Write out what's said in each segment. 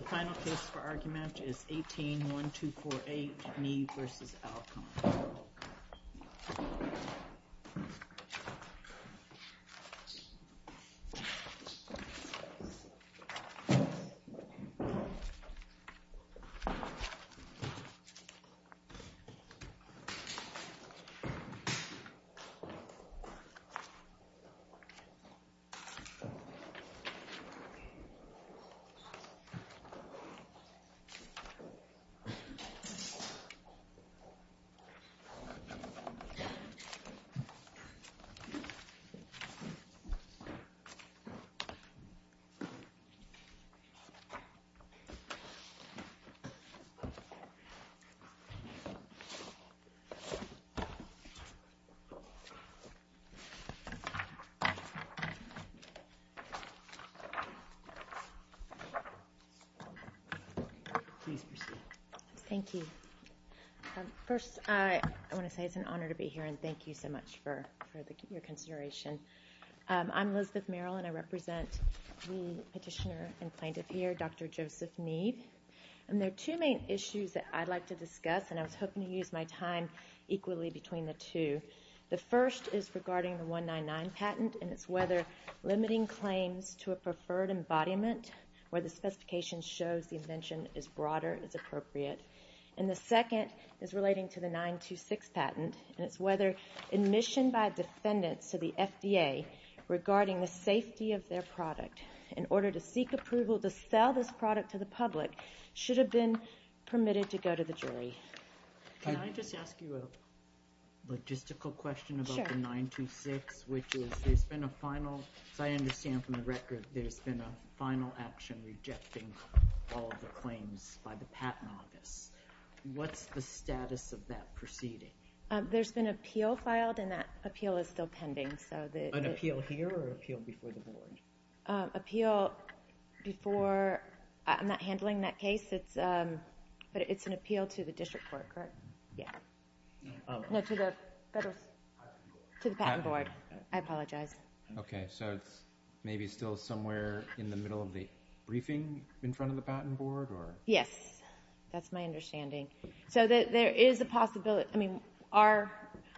The final case for argument is 18-1248, Me v. Alcon. Me v. Alcon LenSx Inc Please proceed. Thank you. First, I want to say it's an honor to be here and thank you so much for your consideration. I'm Elizabeth Merrill and I represent the petitioner and plaintiff here, Dr. Joseph Neeb. And there are two main issues that I'd like to discuss and I was hoping to use my time equally between the two. The first is regarding the 199 patent and it's whether limiting claims to a preferred embodiment where the specification shows the invention is broader is appropriate. And the second is relating to the 926 patent and it's whether admission by defendants to the FDA regarding the safety of their product in order to seek approval to sell this product to the public Can I just ask you a logistical question about the 926? Which is, there's been a final, as I understand from the record, there's been a final action rejecting all of the claims by the patent office. What's the status of that proceeding? There's been an appeal filed and that appeal is still pending. An appeal here or an appeal before the board? An appeal before, I'm not handling that case, but it's an appeal to the district court, correct? No, to the patent board. I apologize. Okay, so it's maybe still somewhere in the middle of the briefing in front of the patent board? Yes, that's my understanding. So there is a possibility, I mean,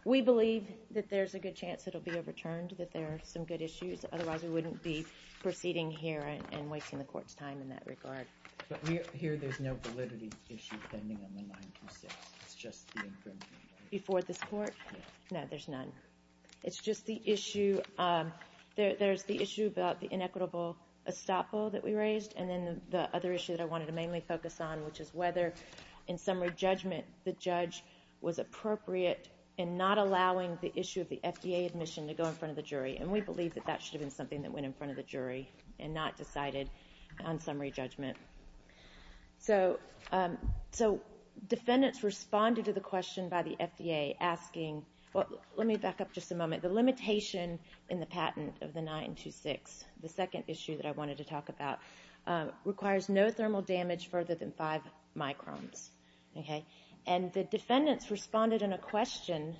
we believe that there's a good chance it will be overturned, that there are some good issues, otherwise we wouldn't be proceeding here and wasting the court's time in that regard. But here there's no validity issue pending on the 926, it's just the infringement, right? Before this court? No, there's none. It's just the issue, there's the issue about the inequitable estoppel that we raised, and then the other issue that I wanted to mainly focus on, which is whether in summary judgment, the judge was appropriate in not allowing the issue of the FDA admission to go in front of the jury. And we believe that that should have been something that went in front of the jury and not decided on summary judgment. So defendants responded to the question by the FDA asking, let me back up just a moment, the limitation in the patent of the 926, the second issue that I wanted to talk about, requires no thermal damage further than 5 microns. And the defendants responded in a question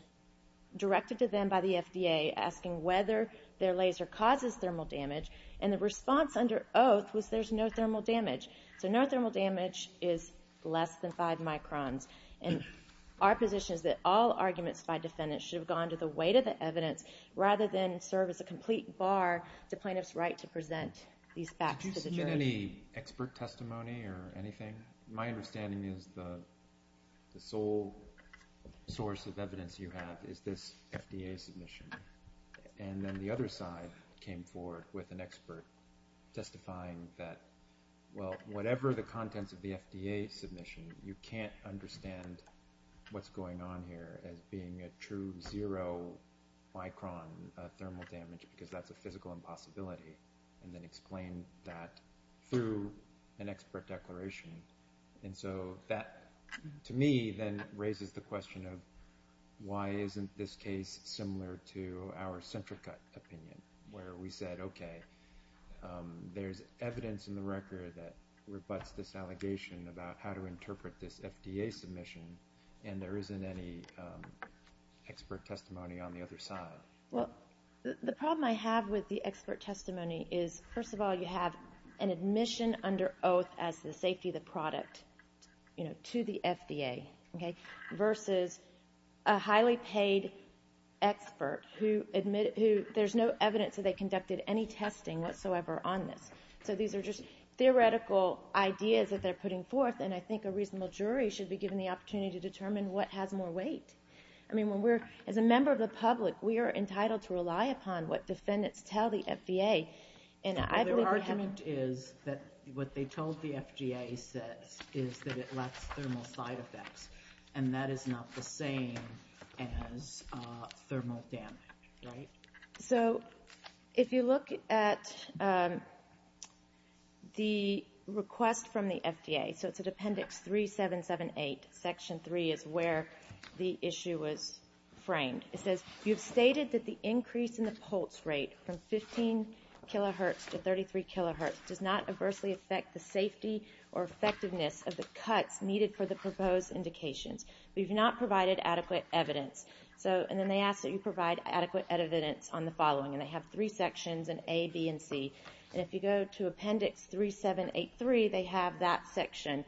directed to them by the FDA asking whether their laser causes thermal damage, and the response under oath was there's no thermal damage. So no thermal damage is less than 5 microns. And our position is that all arguments by defendants should have gone to the weight of the evidence rather than serve as a complete bar to plaintiff's right to present these facts to the jury. Did you submit any expert testimony or anything? My understanding is the sole source of evidence you have is this FDA submission. And then the other side came forward with an expert testifying that, well, whatever the contents of the FDA submission, you can't understand what's going on here as being a true zero micron thermal damage, because that's a physical impossibility, and then explain that through an expert declaration. And so that, to me, then raises the question of why isn't this case similar to our Centrica opinion, where we said, okay, there's evidence in the record that rebutts this allegation about how to interpret this FDA submission, and there isn't any expert testimony on the other side. Well, the problem I have with the expert testimony is, first of all, you have an admission under oath as the safety of the product, you know, to the FDA, okay, versus a highly paid expert who there's no evidence that they conducted any testing whatsoever on this. So these are just theoretical ideas that they're putting forth, and I think a reasonable jury should be given the opportunity to determine what has more weight. I mean, as a member of the public, we are entitled to rely upon what defendants tell the FDA. Their argument is that what they told the FDA is that it lets thermal side effects, and that is not the same as thermal damage, right? So if you look at the request from the FDA, so it's at Appendix 3778, Section 3, is where the issue was framed. It says, you've stated that the increase in the pulse rate from 15 kilohertz to 33 kilohertz does not adversely affect the safety or effectiveness of the cuts needed for the proposed indications. We've not provided adequate evidence. And then they ask that you provide adequate evidence on the following, and they have three sections, an A, B, and C. And if you go to Appendix 3783, they have that section,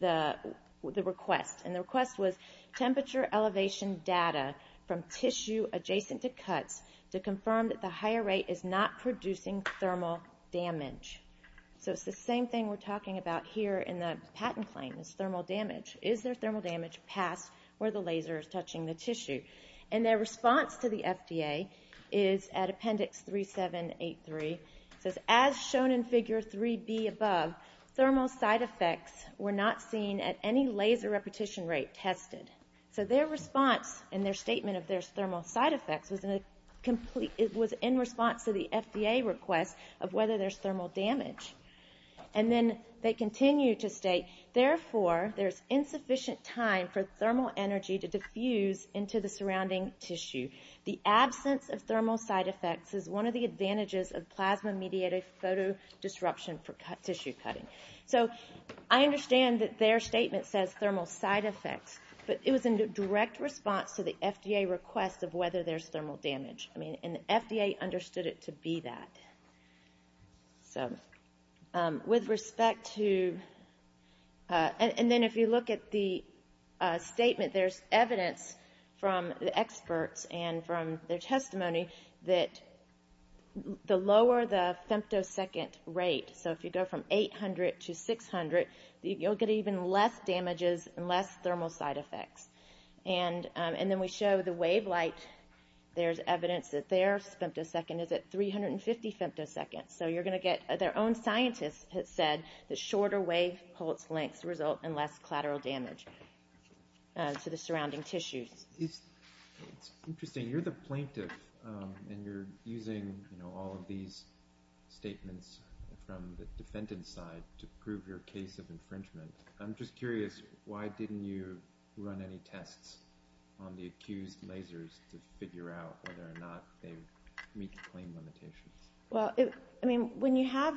the request. And the request was temperature elevation data from tissue adjacent to cuts to confirm that the higher rate is not producing thermal damage. So it's the same thing we're talking about here in the patent claim is thermal damage. Is there thermal damage past where the laser is touching the tissue? And their response to the FDA is at Appendix 3783. It says, as shown in Figure 3B above, thermal side effects were not seen at any laser repetition rate tested. So their response and their statement of there's thermal side effects was in response to the FDA request of whether there's thermal damage. And then they continue to state, therefore, there's insufficient time for thermal energy to diffuse into the surrounding tissue. The absence of thermal side effects is one of the advantages of plasma-mediated photodisruption for tissue cutting. So I understand that their statement says thermal side effects, but it was in direct response to the FDA request of whether there's thermal damage. And the FDA understood it to be that. So with respect to — and then if you look at the statement, there's evidence from the experts and from their testimony that the lower the femtosecond rate, so if you go from 800 to 600, you'll get even less damages and less thermal side effects. And then we show the wavelight. There's evidence that their femtosecond is at 350 femtoseconds. So you're going to get — their own scientist has said that shorter wave pulse lengths result in less collateral damage to the surrounding tissues. It's interesting. You're the plaintiff, and you're using all of these statements from the defendant's side to prove your case of infringement. I'm just curious, why didn't you run any tests on the accused lasers to figure out whether or not they meet the claim limitations? Well, I mean, when you have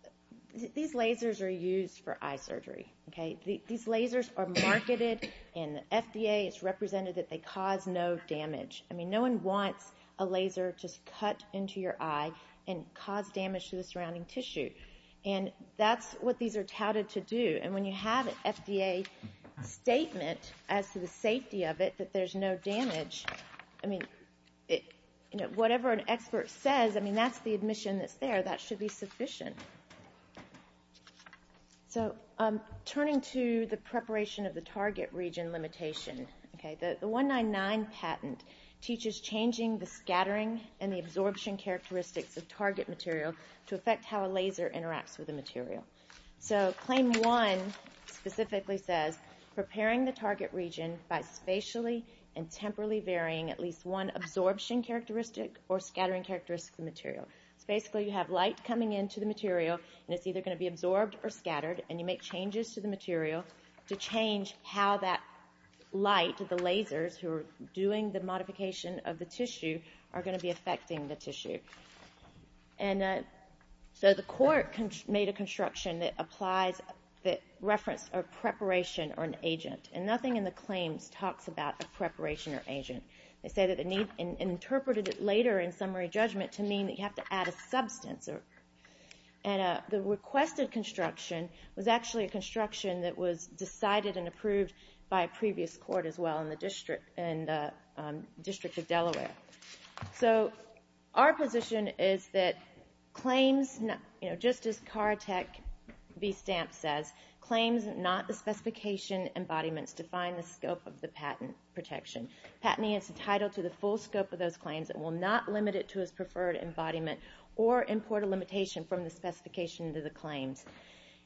— these lasers are used for eye surgery, okay? These lasers are marketed, and the FDA has represented that they cause no damage. I mean, no one wants a laser just cut into your eye and cause damage to the surrounding tissue. And that's what these are touted to do. And when you have an FDA statement as to the safety of it, that there's no damage, I mean, whatever an expert says, I mean, that's the admission that's there. That should be sufficient. So turning to the preparation of the target region limitation, okay, the 199 patent teaches changing the scattering and the absorption characteristics of target material to affect how a laser interacts with the material. So Claim 1 specifically says, Preparing the target region by spatially and temporally varying at least one absorption characteristic or scattering characteristic of the material. So basically, you have light coming into the material, and it's either going to be absorbed or scattered, and you make changes to the material to change how that light, the lasers who are doing the modification of the tissue, are going to be affecting the tissue. And so the court made a construction that applies — that referenced a preparation or an agent. And nothing in the claims talks about a preparation or agent. They say that the need — and interpreted it later in summary judgment to mean that you have to add a substance. And the requested construction was actually a construction that was decided and approved by a previous court as well in the District of Delaware. So our position is that claims — you know, just as CAR Tech v. Stamp says, Claims not the specification embodiments define the scope of the patent protection. Patenting is entitled to the full scope of those claims. It will not limit it to its preferred embodiment or import a limitation from the specification into the claims.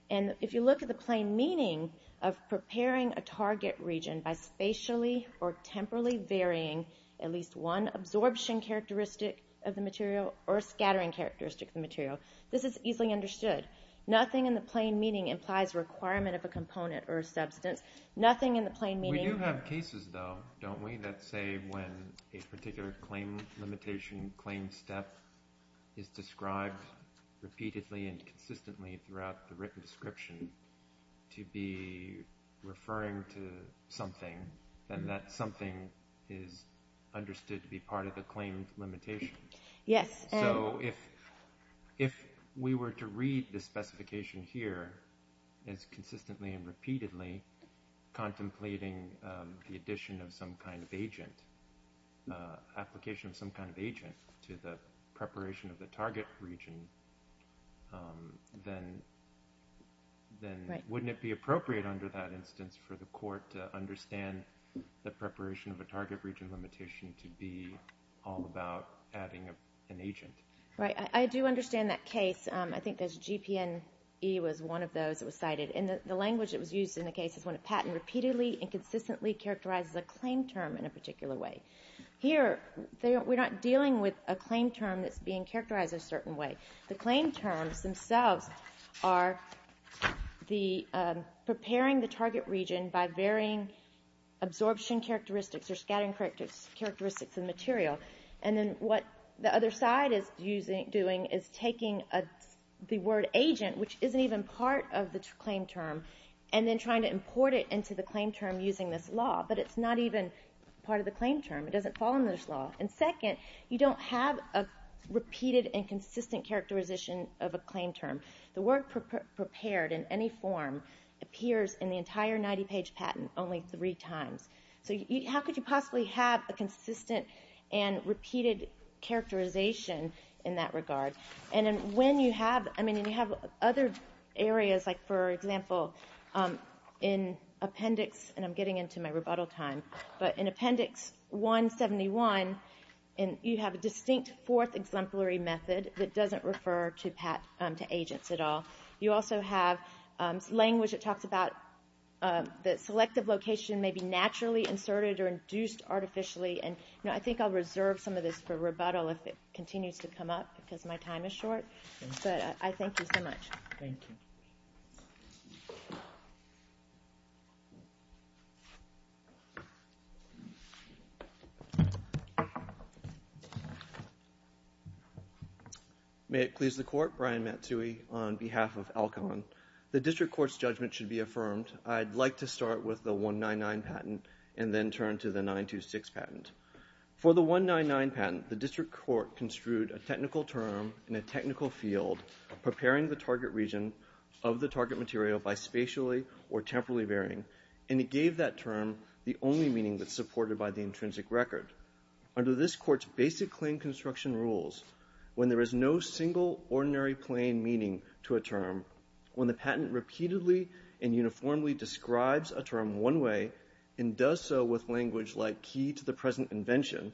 And if you look at the plain meaning of preparing a target region by spatially or temporally varying at least one absorption characteristic of the material or scattering characteristic of the material, this is easily understood. Nothing in the plain meaning implies a requirement of a component or a substance. Nothing in the plain meaning — Let's say when a particular claim limitation claim step is described repeatedly and consistently throughout the written description to be referring to something, then that something is understood to be part of the claim limitation. Yes. So if we were to read the specification here as consistently and repeatedly contemplating the addition of some kind of agent, application of some kind of agent to the preparation of the target region, then wouldn't it be appropriate under that instance for the court to understand the preparation of a target region limitation to be all about adding an agent? Right. I do understand that case. I think there's a GPNE was one of those that was cited. And the language that was used in the case is when a patent repeatedly and consistently characterizes a claim term in a particular way. Here, we're not dealing with a claim term that's being characterized a certain way. The claim terms themselves are preparing the target region by varying absorption characteristics or scattering characteristics of material. And then what the other side is doing is taking the word agent, which isn't even part of the claim term, and then trying to import it into the claim term using this law. But it's not even part of the claim term. It doesn't fall under this law. And second, you don't have a repeated and consistent characterization of a claim term. The word prepared in any form appears in the entire 90-page patent only three times. So how could you possibly have a consistent and repeated characterization in that regard? And when you have other areas, like, for example, in appendix, and I'm getting into my rebuttal time, but in appendix 171, you have a distinct fourth exemplary method that doesn't refer to agents at all. You also have language that talks about the selective location may be naturally inserted or induced artificially. And I think I'll reserve some of this for rebuttal if it continues to come up because my time is short. But I thank you so much. Thank you. May it please the Court, Brian Matsui on behalf of ALCON. The district court's judgment should be affirmed. I'd like to start with the 199 patent and then turn to the 926 patent. For the 199 patent, the district court construed a technical term in a technical field, preparing the target region of the target material by spatially or temporally varying, and it gave that term the only meaning that's supported by the intrinsic record. Under this court's basic claim construction rules, when there is no single ordinary plain meaning to a term, when the patent repeatedly and uniformly describes a term one way and does so with language like key to the present invention,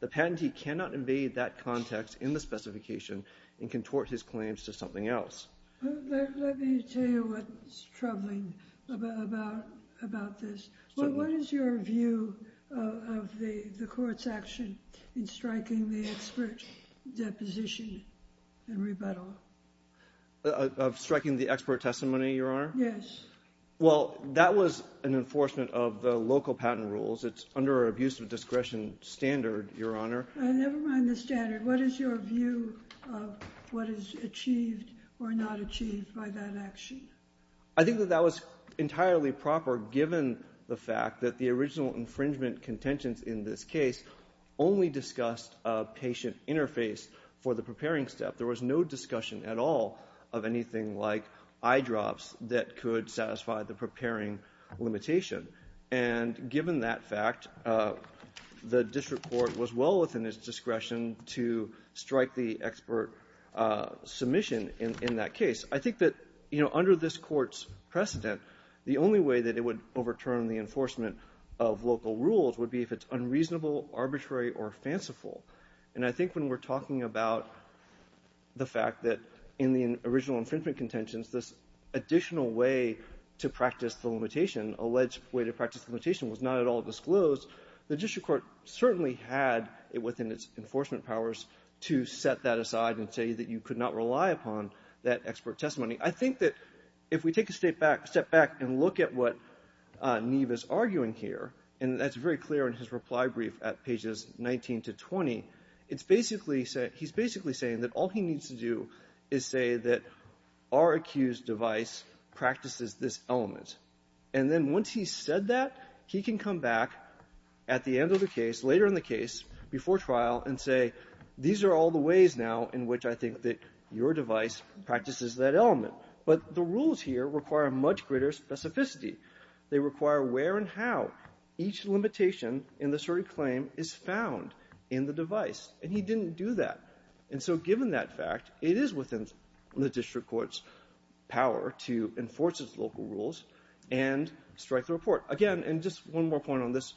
the patentee cannot invade that context in the specification and contort his claims to something else. Let me tell you what's troubling about this. What is your view of the court's action in striking the expert deposition and rebuttal? Of striking the expert testimony, Your Honor? Yes. Well, that was an enforcement of the local patent rules. It's under our abuse of discretion standard, Your Honor. Never mind the standard. What is your view of what is achieved or not achieved by that action? I think that that was entirely proper, given the fact that the original infringement contentions in this case only discussed a patient interface for the preparing step. There was no discussion at all of anything like eyedrops that could satisfy the preparing limitation. And given that fact, the district court was well within its discretion to strike the expert submission in that case. I think that, you know, under this court's precedent, the only way that it would overturn the enforcement of local rules would be if it's unreasonable, arbitrary, or fanciful. And I think when we're talking about the fact that in the original infringement contentions, this additional way to practice the limitation, alleged way to practice the limitation, was not at all disclosed, the district court certainly had it within its enforcement powers to set that aside and say that you could not rely upon that expert testimony. I think that if we take a step back and look at what Neve is arguing here, and that's very clear in his reply brief at pages 19 to 20, it's basically saying that all he needs to do is say that our accused device practices this element. And then once he's said that, he can come back at the end of the case, later in the case, before trial, and say these are all the ways now in which I think that your device practices that element. But the rules here require much greater specificity. They require where and how each limitation in the certain claim is found in the device. And he didn't do that. And so given that fact, it is within the district court's power to enforce its local rules and strike the report. Again, and just one more point on this,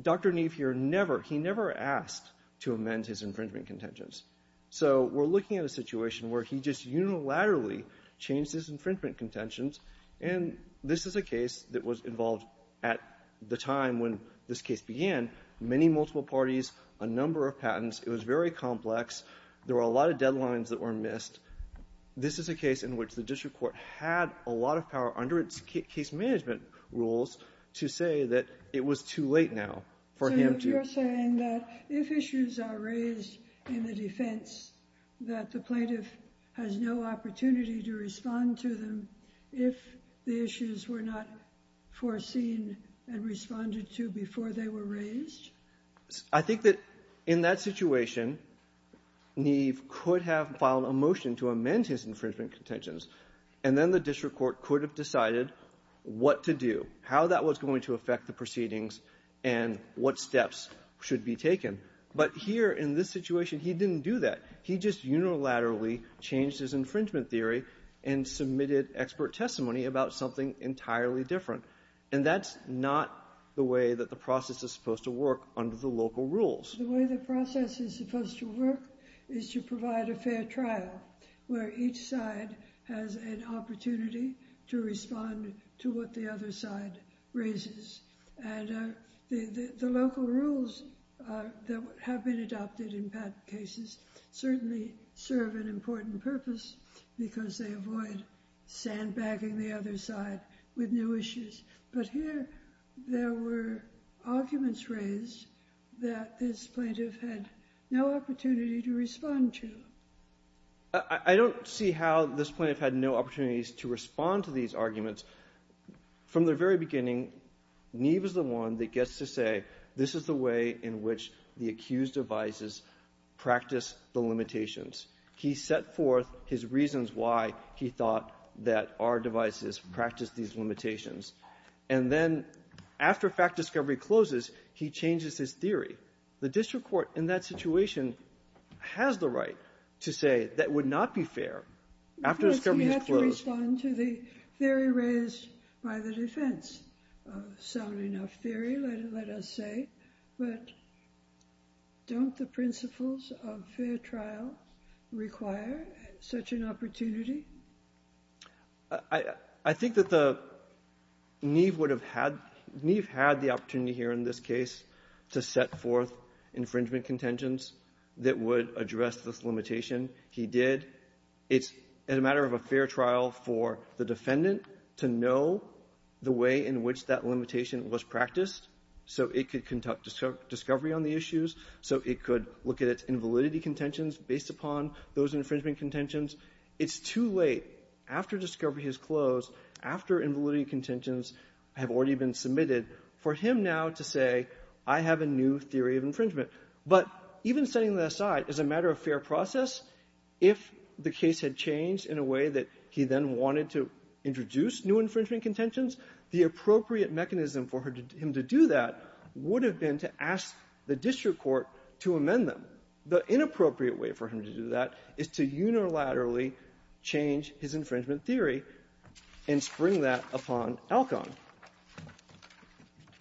Dr. Neve here never, he never asked to amend his infringement contentions. So we're looking at a situation where he just unilaterally changed his infringement contentions. And this is a case that was involved at the time when this case began, many multiple parties, a number of patents. It was very complex. There were a lot of deadlines that were missed. This is a case in which the district court had a lot of power under its case management rules to say that it was too late now for him to do it. So you're saying that if issues are raised in the defense, that the plaintiff has no opportunity to respond to them if the issues were not foreseen and responded to before they were raised? I think that in that situation, Neve could have filed a motion to amend his infringement contentions, and then the district court could have decided what to do, how that was going to affect the proceedings, and what steps should be taken. But here in this situation, he didn't do that. He just unilaterally changed his infringement theory and submitted expert testimony about something entirely different. And that's not the way that the process is supposed to work under the local rules. The way the process is supposed to work is to provide a fair trial where each side has an opportunity to respond to what the other side raises. And the local rules that have been adopted in patent cases certainly serve an important purpose because they avoid sandbagging the other side with new issues. But here, there were arguments raised that this plaintiff had no opportunity to respond to. I don't see how this plaintiff had no opportunities to respond to these arguments. From the very beginning, Neve is the one that gets to say this is the way in which the accused advises practice the limitations. He set forth his reasons why he thought that our devices practice these limitations. And then after fact discovery closes, he changes his theory. The district court in that situation has the right to say that would not be fair after discovery is closed. We have to respond to the theory raised by the defense. A sound enough theory, let us say. But don't the principles of fair trial require such an opportunity? I think that Neve would have had the opportunity here in this case to set forth infringement contentions that would address this limitation. He did. It's a matter of a fair trial for the defendant to know the way in which that limitation was practiced so it could conduct discovery on the issues, so it could look at its invalidity contentions based upon those infringement contentions. It's too late after discovery has closed, after invalidity contentions have already been submitted, for him now to say I have a new theory of infringement. But even setting that aside, as a matter of fair process, if the case had changed in a way that he then wanted to introduce new infringement contentions, the appropriate mechanism for him to do that would have been to ask the district court to amend them. The inappropriate way for him to do that is to unilaterally change his infringement theory and spring that upon Elkhorn.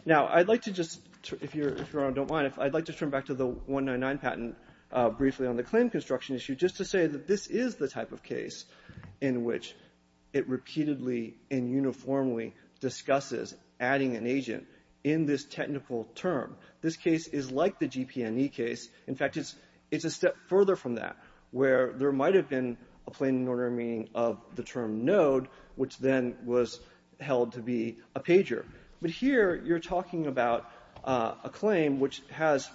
Now, I'd like to just, if Your Honor don't mind, I'd like to turn back to the 199 patent briefly on the claim construction issue just to say that this is the type of case in which it repeatedly and uniformly discusses adding an agent in this technical term. This case is like the GP&E case. In fact, it's a step further from that, where there might have been a plain and ordinary meaning of the term node, which then was held to be a pager. But here you're talking about a claim which has,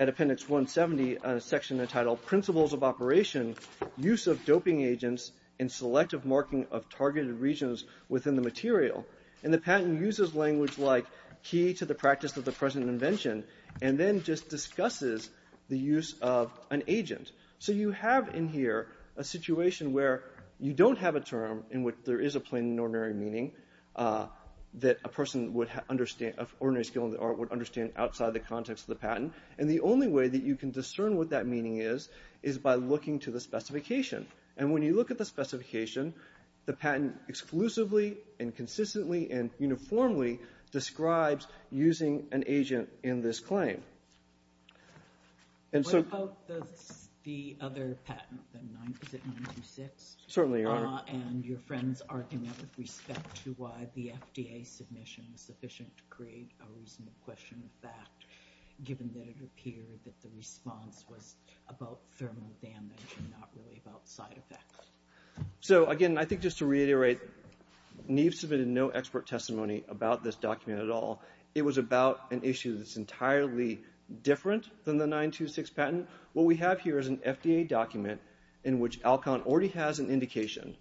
at Appendix 170, a section entitled Principles of Operation, Use of Doping Agents, and Selective Marking of Targeted Regions Within the Material. And the patent uses language like key to the practice of the present invention and then just discusses the use of an agent. So you have in here a situation where you don't have a term in which there is a plain and ordinary meaning that a person would understand, of ordinary skill or would understand outside the context of the patent. And the only way that you can discern what that meaning is, is by looking to the specification. And when you look at the specification, the patent exclusively and consistently and uniformly describes using an agent in this claim. What about the other patent, the 926? Certainly, Your Honor. And your friend's argument with respect to why the FDA submission was sufficient to create a reasonable question of fact, given that it appeared that the response was about thermal damage and not really about side effects. So, again, I think just to reiterate, Neve submitted no expert testimony about this document at all. It was about an issue that's entirely different than the 926 patent. What we have here is an FDA document in which Alcon already has an indication.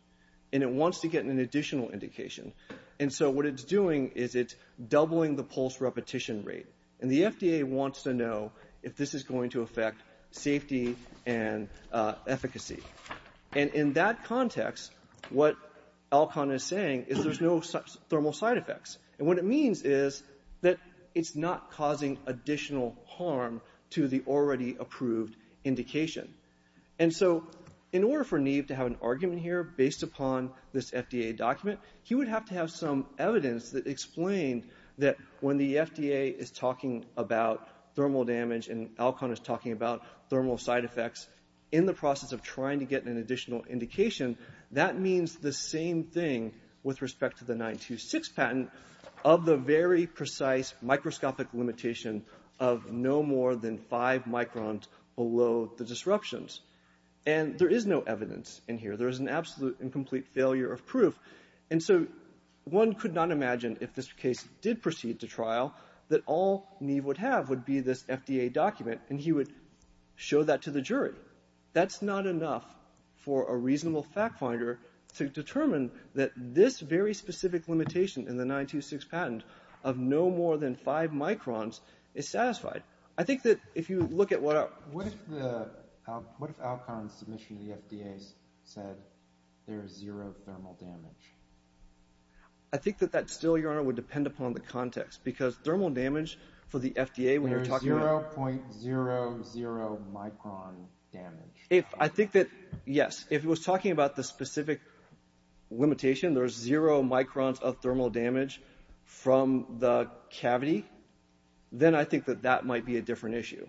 And it wants to get an additional indication. And so what it's doing is it's doubling the pulse repetition rate. And the FDA wants to know if this is going to affect safety and efficacy. And in that context, what Alcon is saying is there's no thermal side effects. And what it means is that it's not causing additional harm to the already approved indication. And so in order for Neve to have an argument here based upon this FDA document, he would have to have some evidence that explained that when the FDA is talking about thermal damage and Alcon is talking about thermal side effects in the process of trying to get an additional indication, that means the same thing with respect to the 926 patent of the very precise microscopic limitation of no more than five microns below the disruptions. And there is no evidence in here. There is an absolute incomplete failure of proof. And so one could not imagine if this case did proceed to trial that all reasonable fact finder to determine that this very specific limitation in the 926 patent of no more than five microns is satisfied. I think that if you look at what Alcon's submission to the FDA said, there is zero thermal damage. I think that that still, Your Honor, would depend upon the context. Because thermal damage for the FDA when you're talking about... There's 0.00 micron damage. I think that, yes, if he was talking about the specific limitation, there's zero microns of thermal damage from the cavity, then I think that that might be a different issue.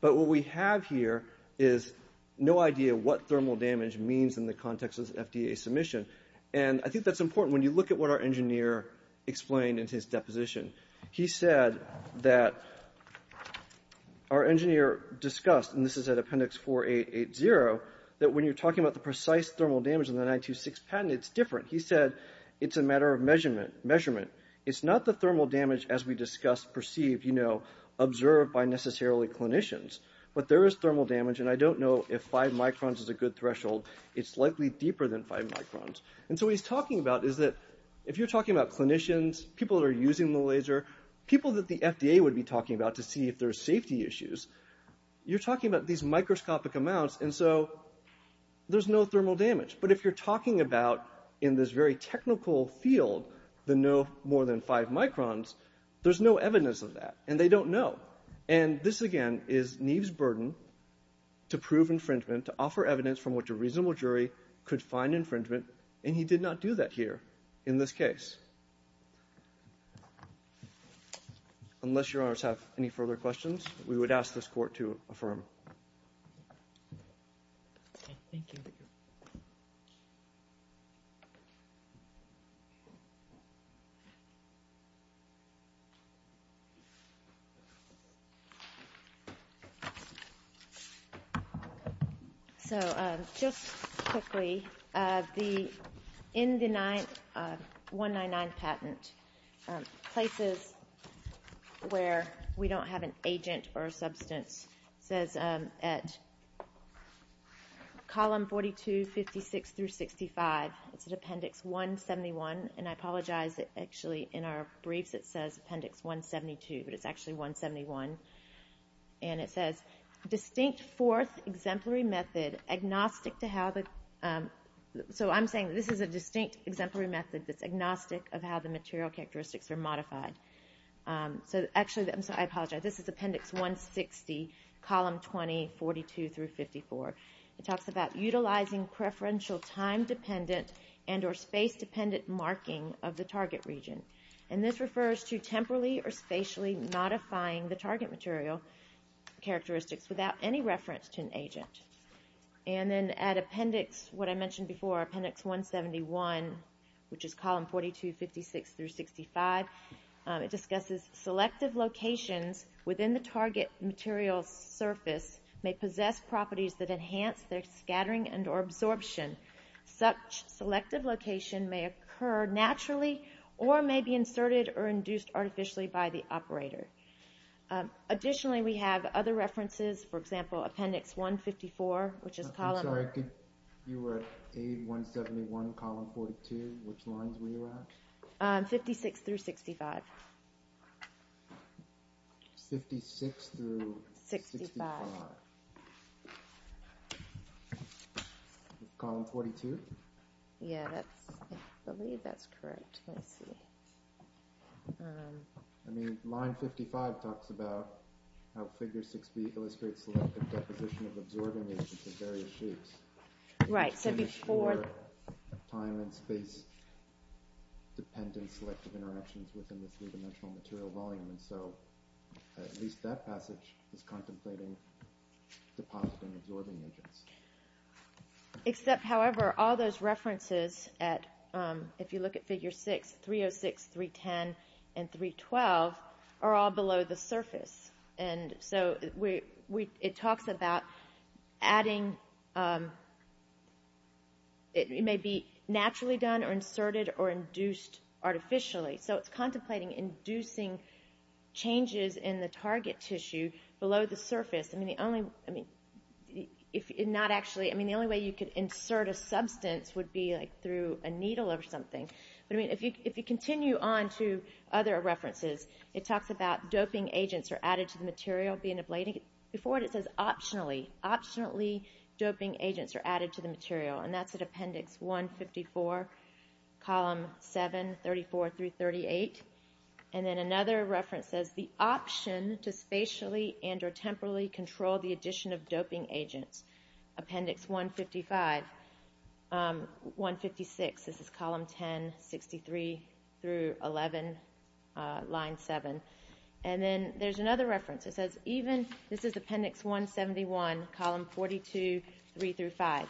But what we have here is no idea what thermal damage means in the context of the FDA submission. And I think that's important when you look at what our engineer explained in his deposition. He said that our engineer discussed, and this is at appendix 4880, that when you're talking about the precise thermal damage in the 926 patent, it's different. He said it's a matter of measurement. It's not the thermal damage as we discussed perceived, you know, observed by necessarily clinicians. But there is thermal damage. And I don't know if five microns is a good threshold. It's likely deeper than five microns. And so what he's talking about is that if you're talking about clinicians, people that are using the laser, people that the FDA would be talking about to see if there's safety issues, you're talking about these microscopic amounts. And so there's no thermal damage. But if you're talking about, in this very technical field, the no more than five microns, there's no evidence of that. And they don't know. And this, again, is Neve's burden to prove infringement, to offer evidence from which a reasonable jury could find infringement. And he did not do that here in this case. Unless Your Honors have any further questions, we would ask this Court to affirm. Thank you. So just quickly, in the 199 patent, places where we don't have an agent or a substance, it says at column 42, 56 through 65, it's at appendix 171. And I apologize, actually in our briefs it says appendix 172, but it's actually 171. And it says, distinct fourth exemplary method agnostic to how the so I'm saying this is a distinct exemplary method that's agnostic of how the material characteristics are modified. So actually, I'm sorry, I apologize. This is appendix 160, column 20, 42 through 54. It talks about utilizing preferential time-dependent and or space-dependent marking of the target region. And this refers to temporally or spatially modifying the target material characteristics without any reference to an agent. And then at appendix, what I mentioned before, appendix 171, which is column 42, 56 through 65, it discusses selective locations within the target material's surface may possess properties that enhance their scattering and or absorption. Such selective location may occur naturally or may be inserted or induced artificially by the operator. Additionally, we have other references, for example, appendix 154, which is column... I'm sorry, you were at 56 through 65. 56 through 65. Column 42? Yeah, I believe that's correct. I mean, line 55 talks about how figure 6b illustrates selective deposition of absorbing agents in various shapes. Right, so before... Time- and space-dependent selective interactions within this three-dimensional material volume. And so at least that passage is contemplating depositing absorbing agents. Except, however, all those references at, if you look at figure 6, 306, 310, and 312 are all below the surface. And so it talks about adding... It may be naturally done or inserted or induced artificially. So it's contemplating inducing changes in the target tissue below the surface. I mean, the only way you could insert a substance would be through a needle or something. But, I mean, if you continue on to other references, it talks about doping agents are added to the material being ablated. Before it, it says optionally. Optionally, doping agents are added to the material. And that's at appendix 154, column 7, 34 through 38. And then another reference says, the option to spatially and or temporally control the addition of doping agents. Appendix 155, 156. This is column 10, 63 through 11, line 7. And then there's another reference. It says even... This is appendix 171, column 42, 3 through 5.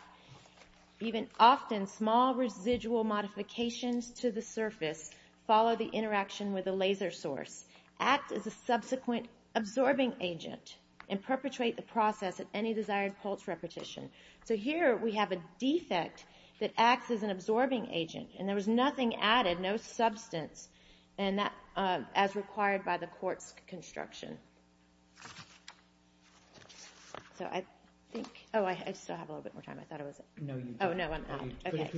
Even often, small residual modifications to the surface follow the interaction with a laser source, act as a subsequent absorbing agent, and perpetrate the process at any desired pulse repetition. So here we have a defect that acts as an absorbing agent, and there was nothing added, no substance, as required by the court's construction. So I think... Oh, I still have a little bit more time. I thought it was... Oh, no, I'm out. Okay.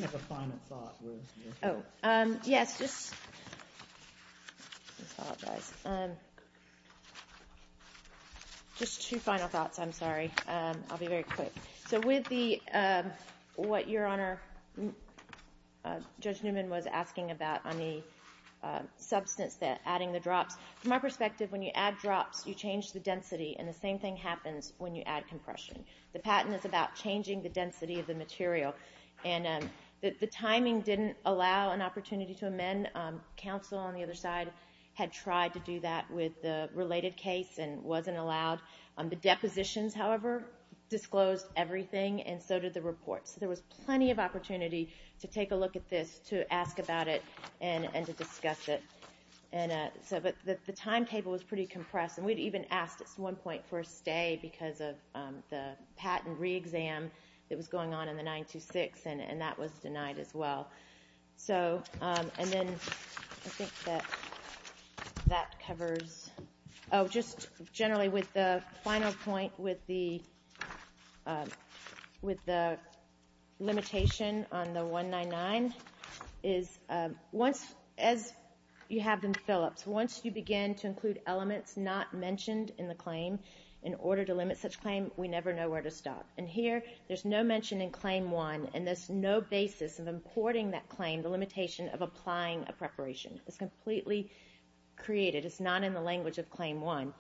Just two final thoughts, I'm sorry. I'll be very quick. Judge Newman was asking about, on the substance, adding the drops. From my perspective, when you add drops, you change the density, and the same thing happens when you add compression. The patent is about changing the density of the material, and the timing didn't allow an opportunity to amend. Counsel on the other side had tried to do that with the related case and wasn't allowed. The depositions, however, disclosed everything, and so did the reports. So there was plenty of opportunity to take a look at this, to ask about it, and to discuss it. But the timetable was pretty compressed, and we'd even asked at one point for a stay because of the patent re-exam that was going on in the 926, and that was denied as well. And then I think that that covers... Oh, just generally with the final point, with the limitation on the 199, is as you have in Phillips, once you begin to include elements not mentioned in the claim, in order to limit such claim, we never know where to stop. And here, there's no mention in Claim 1, and there's no basis of importing that claim, the limitation of applying a preparation. It's completely created. It's not in the language of Claim 1.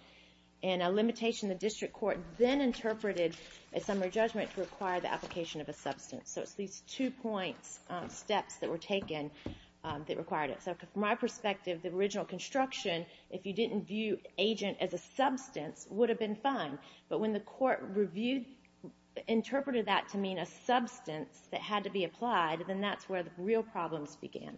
And a limitation the district court then interpreted as summary judgment to require the application of a substance. So it's these two-point steps that were taken that required it. So from my perspective, the original construction, if you didn't view agent as a substance, would have been fine. But when the court interpreted that to mean a substance that had to be applied, then that's where the real problems began. Thank you.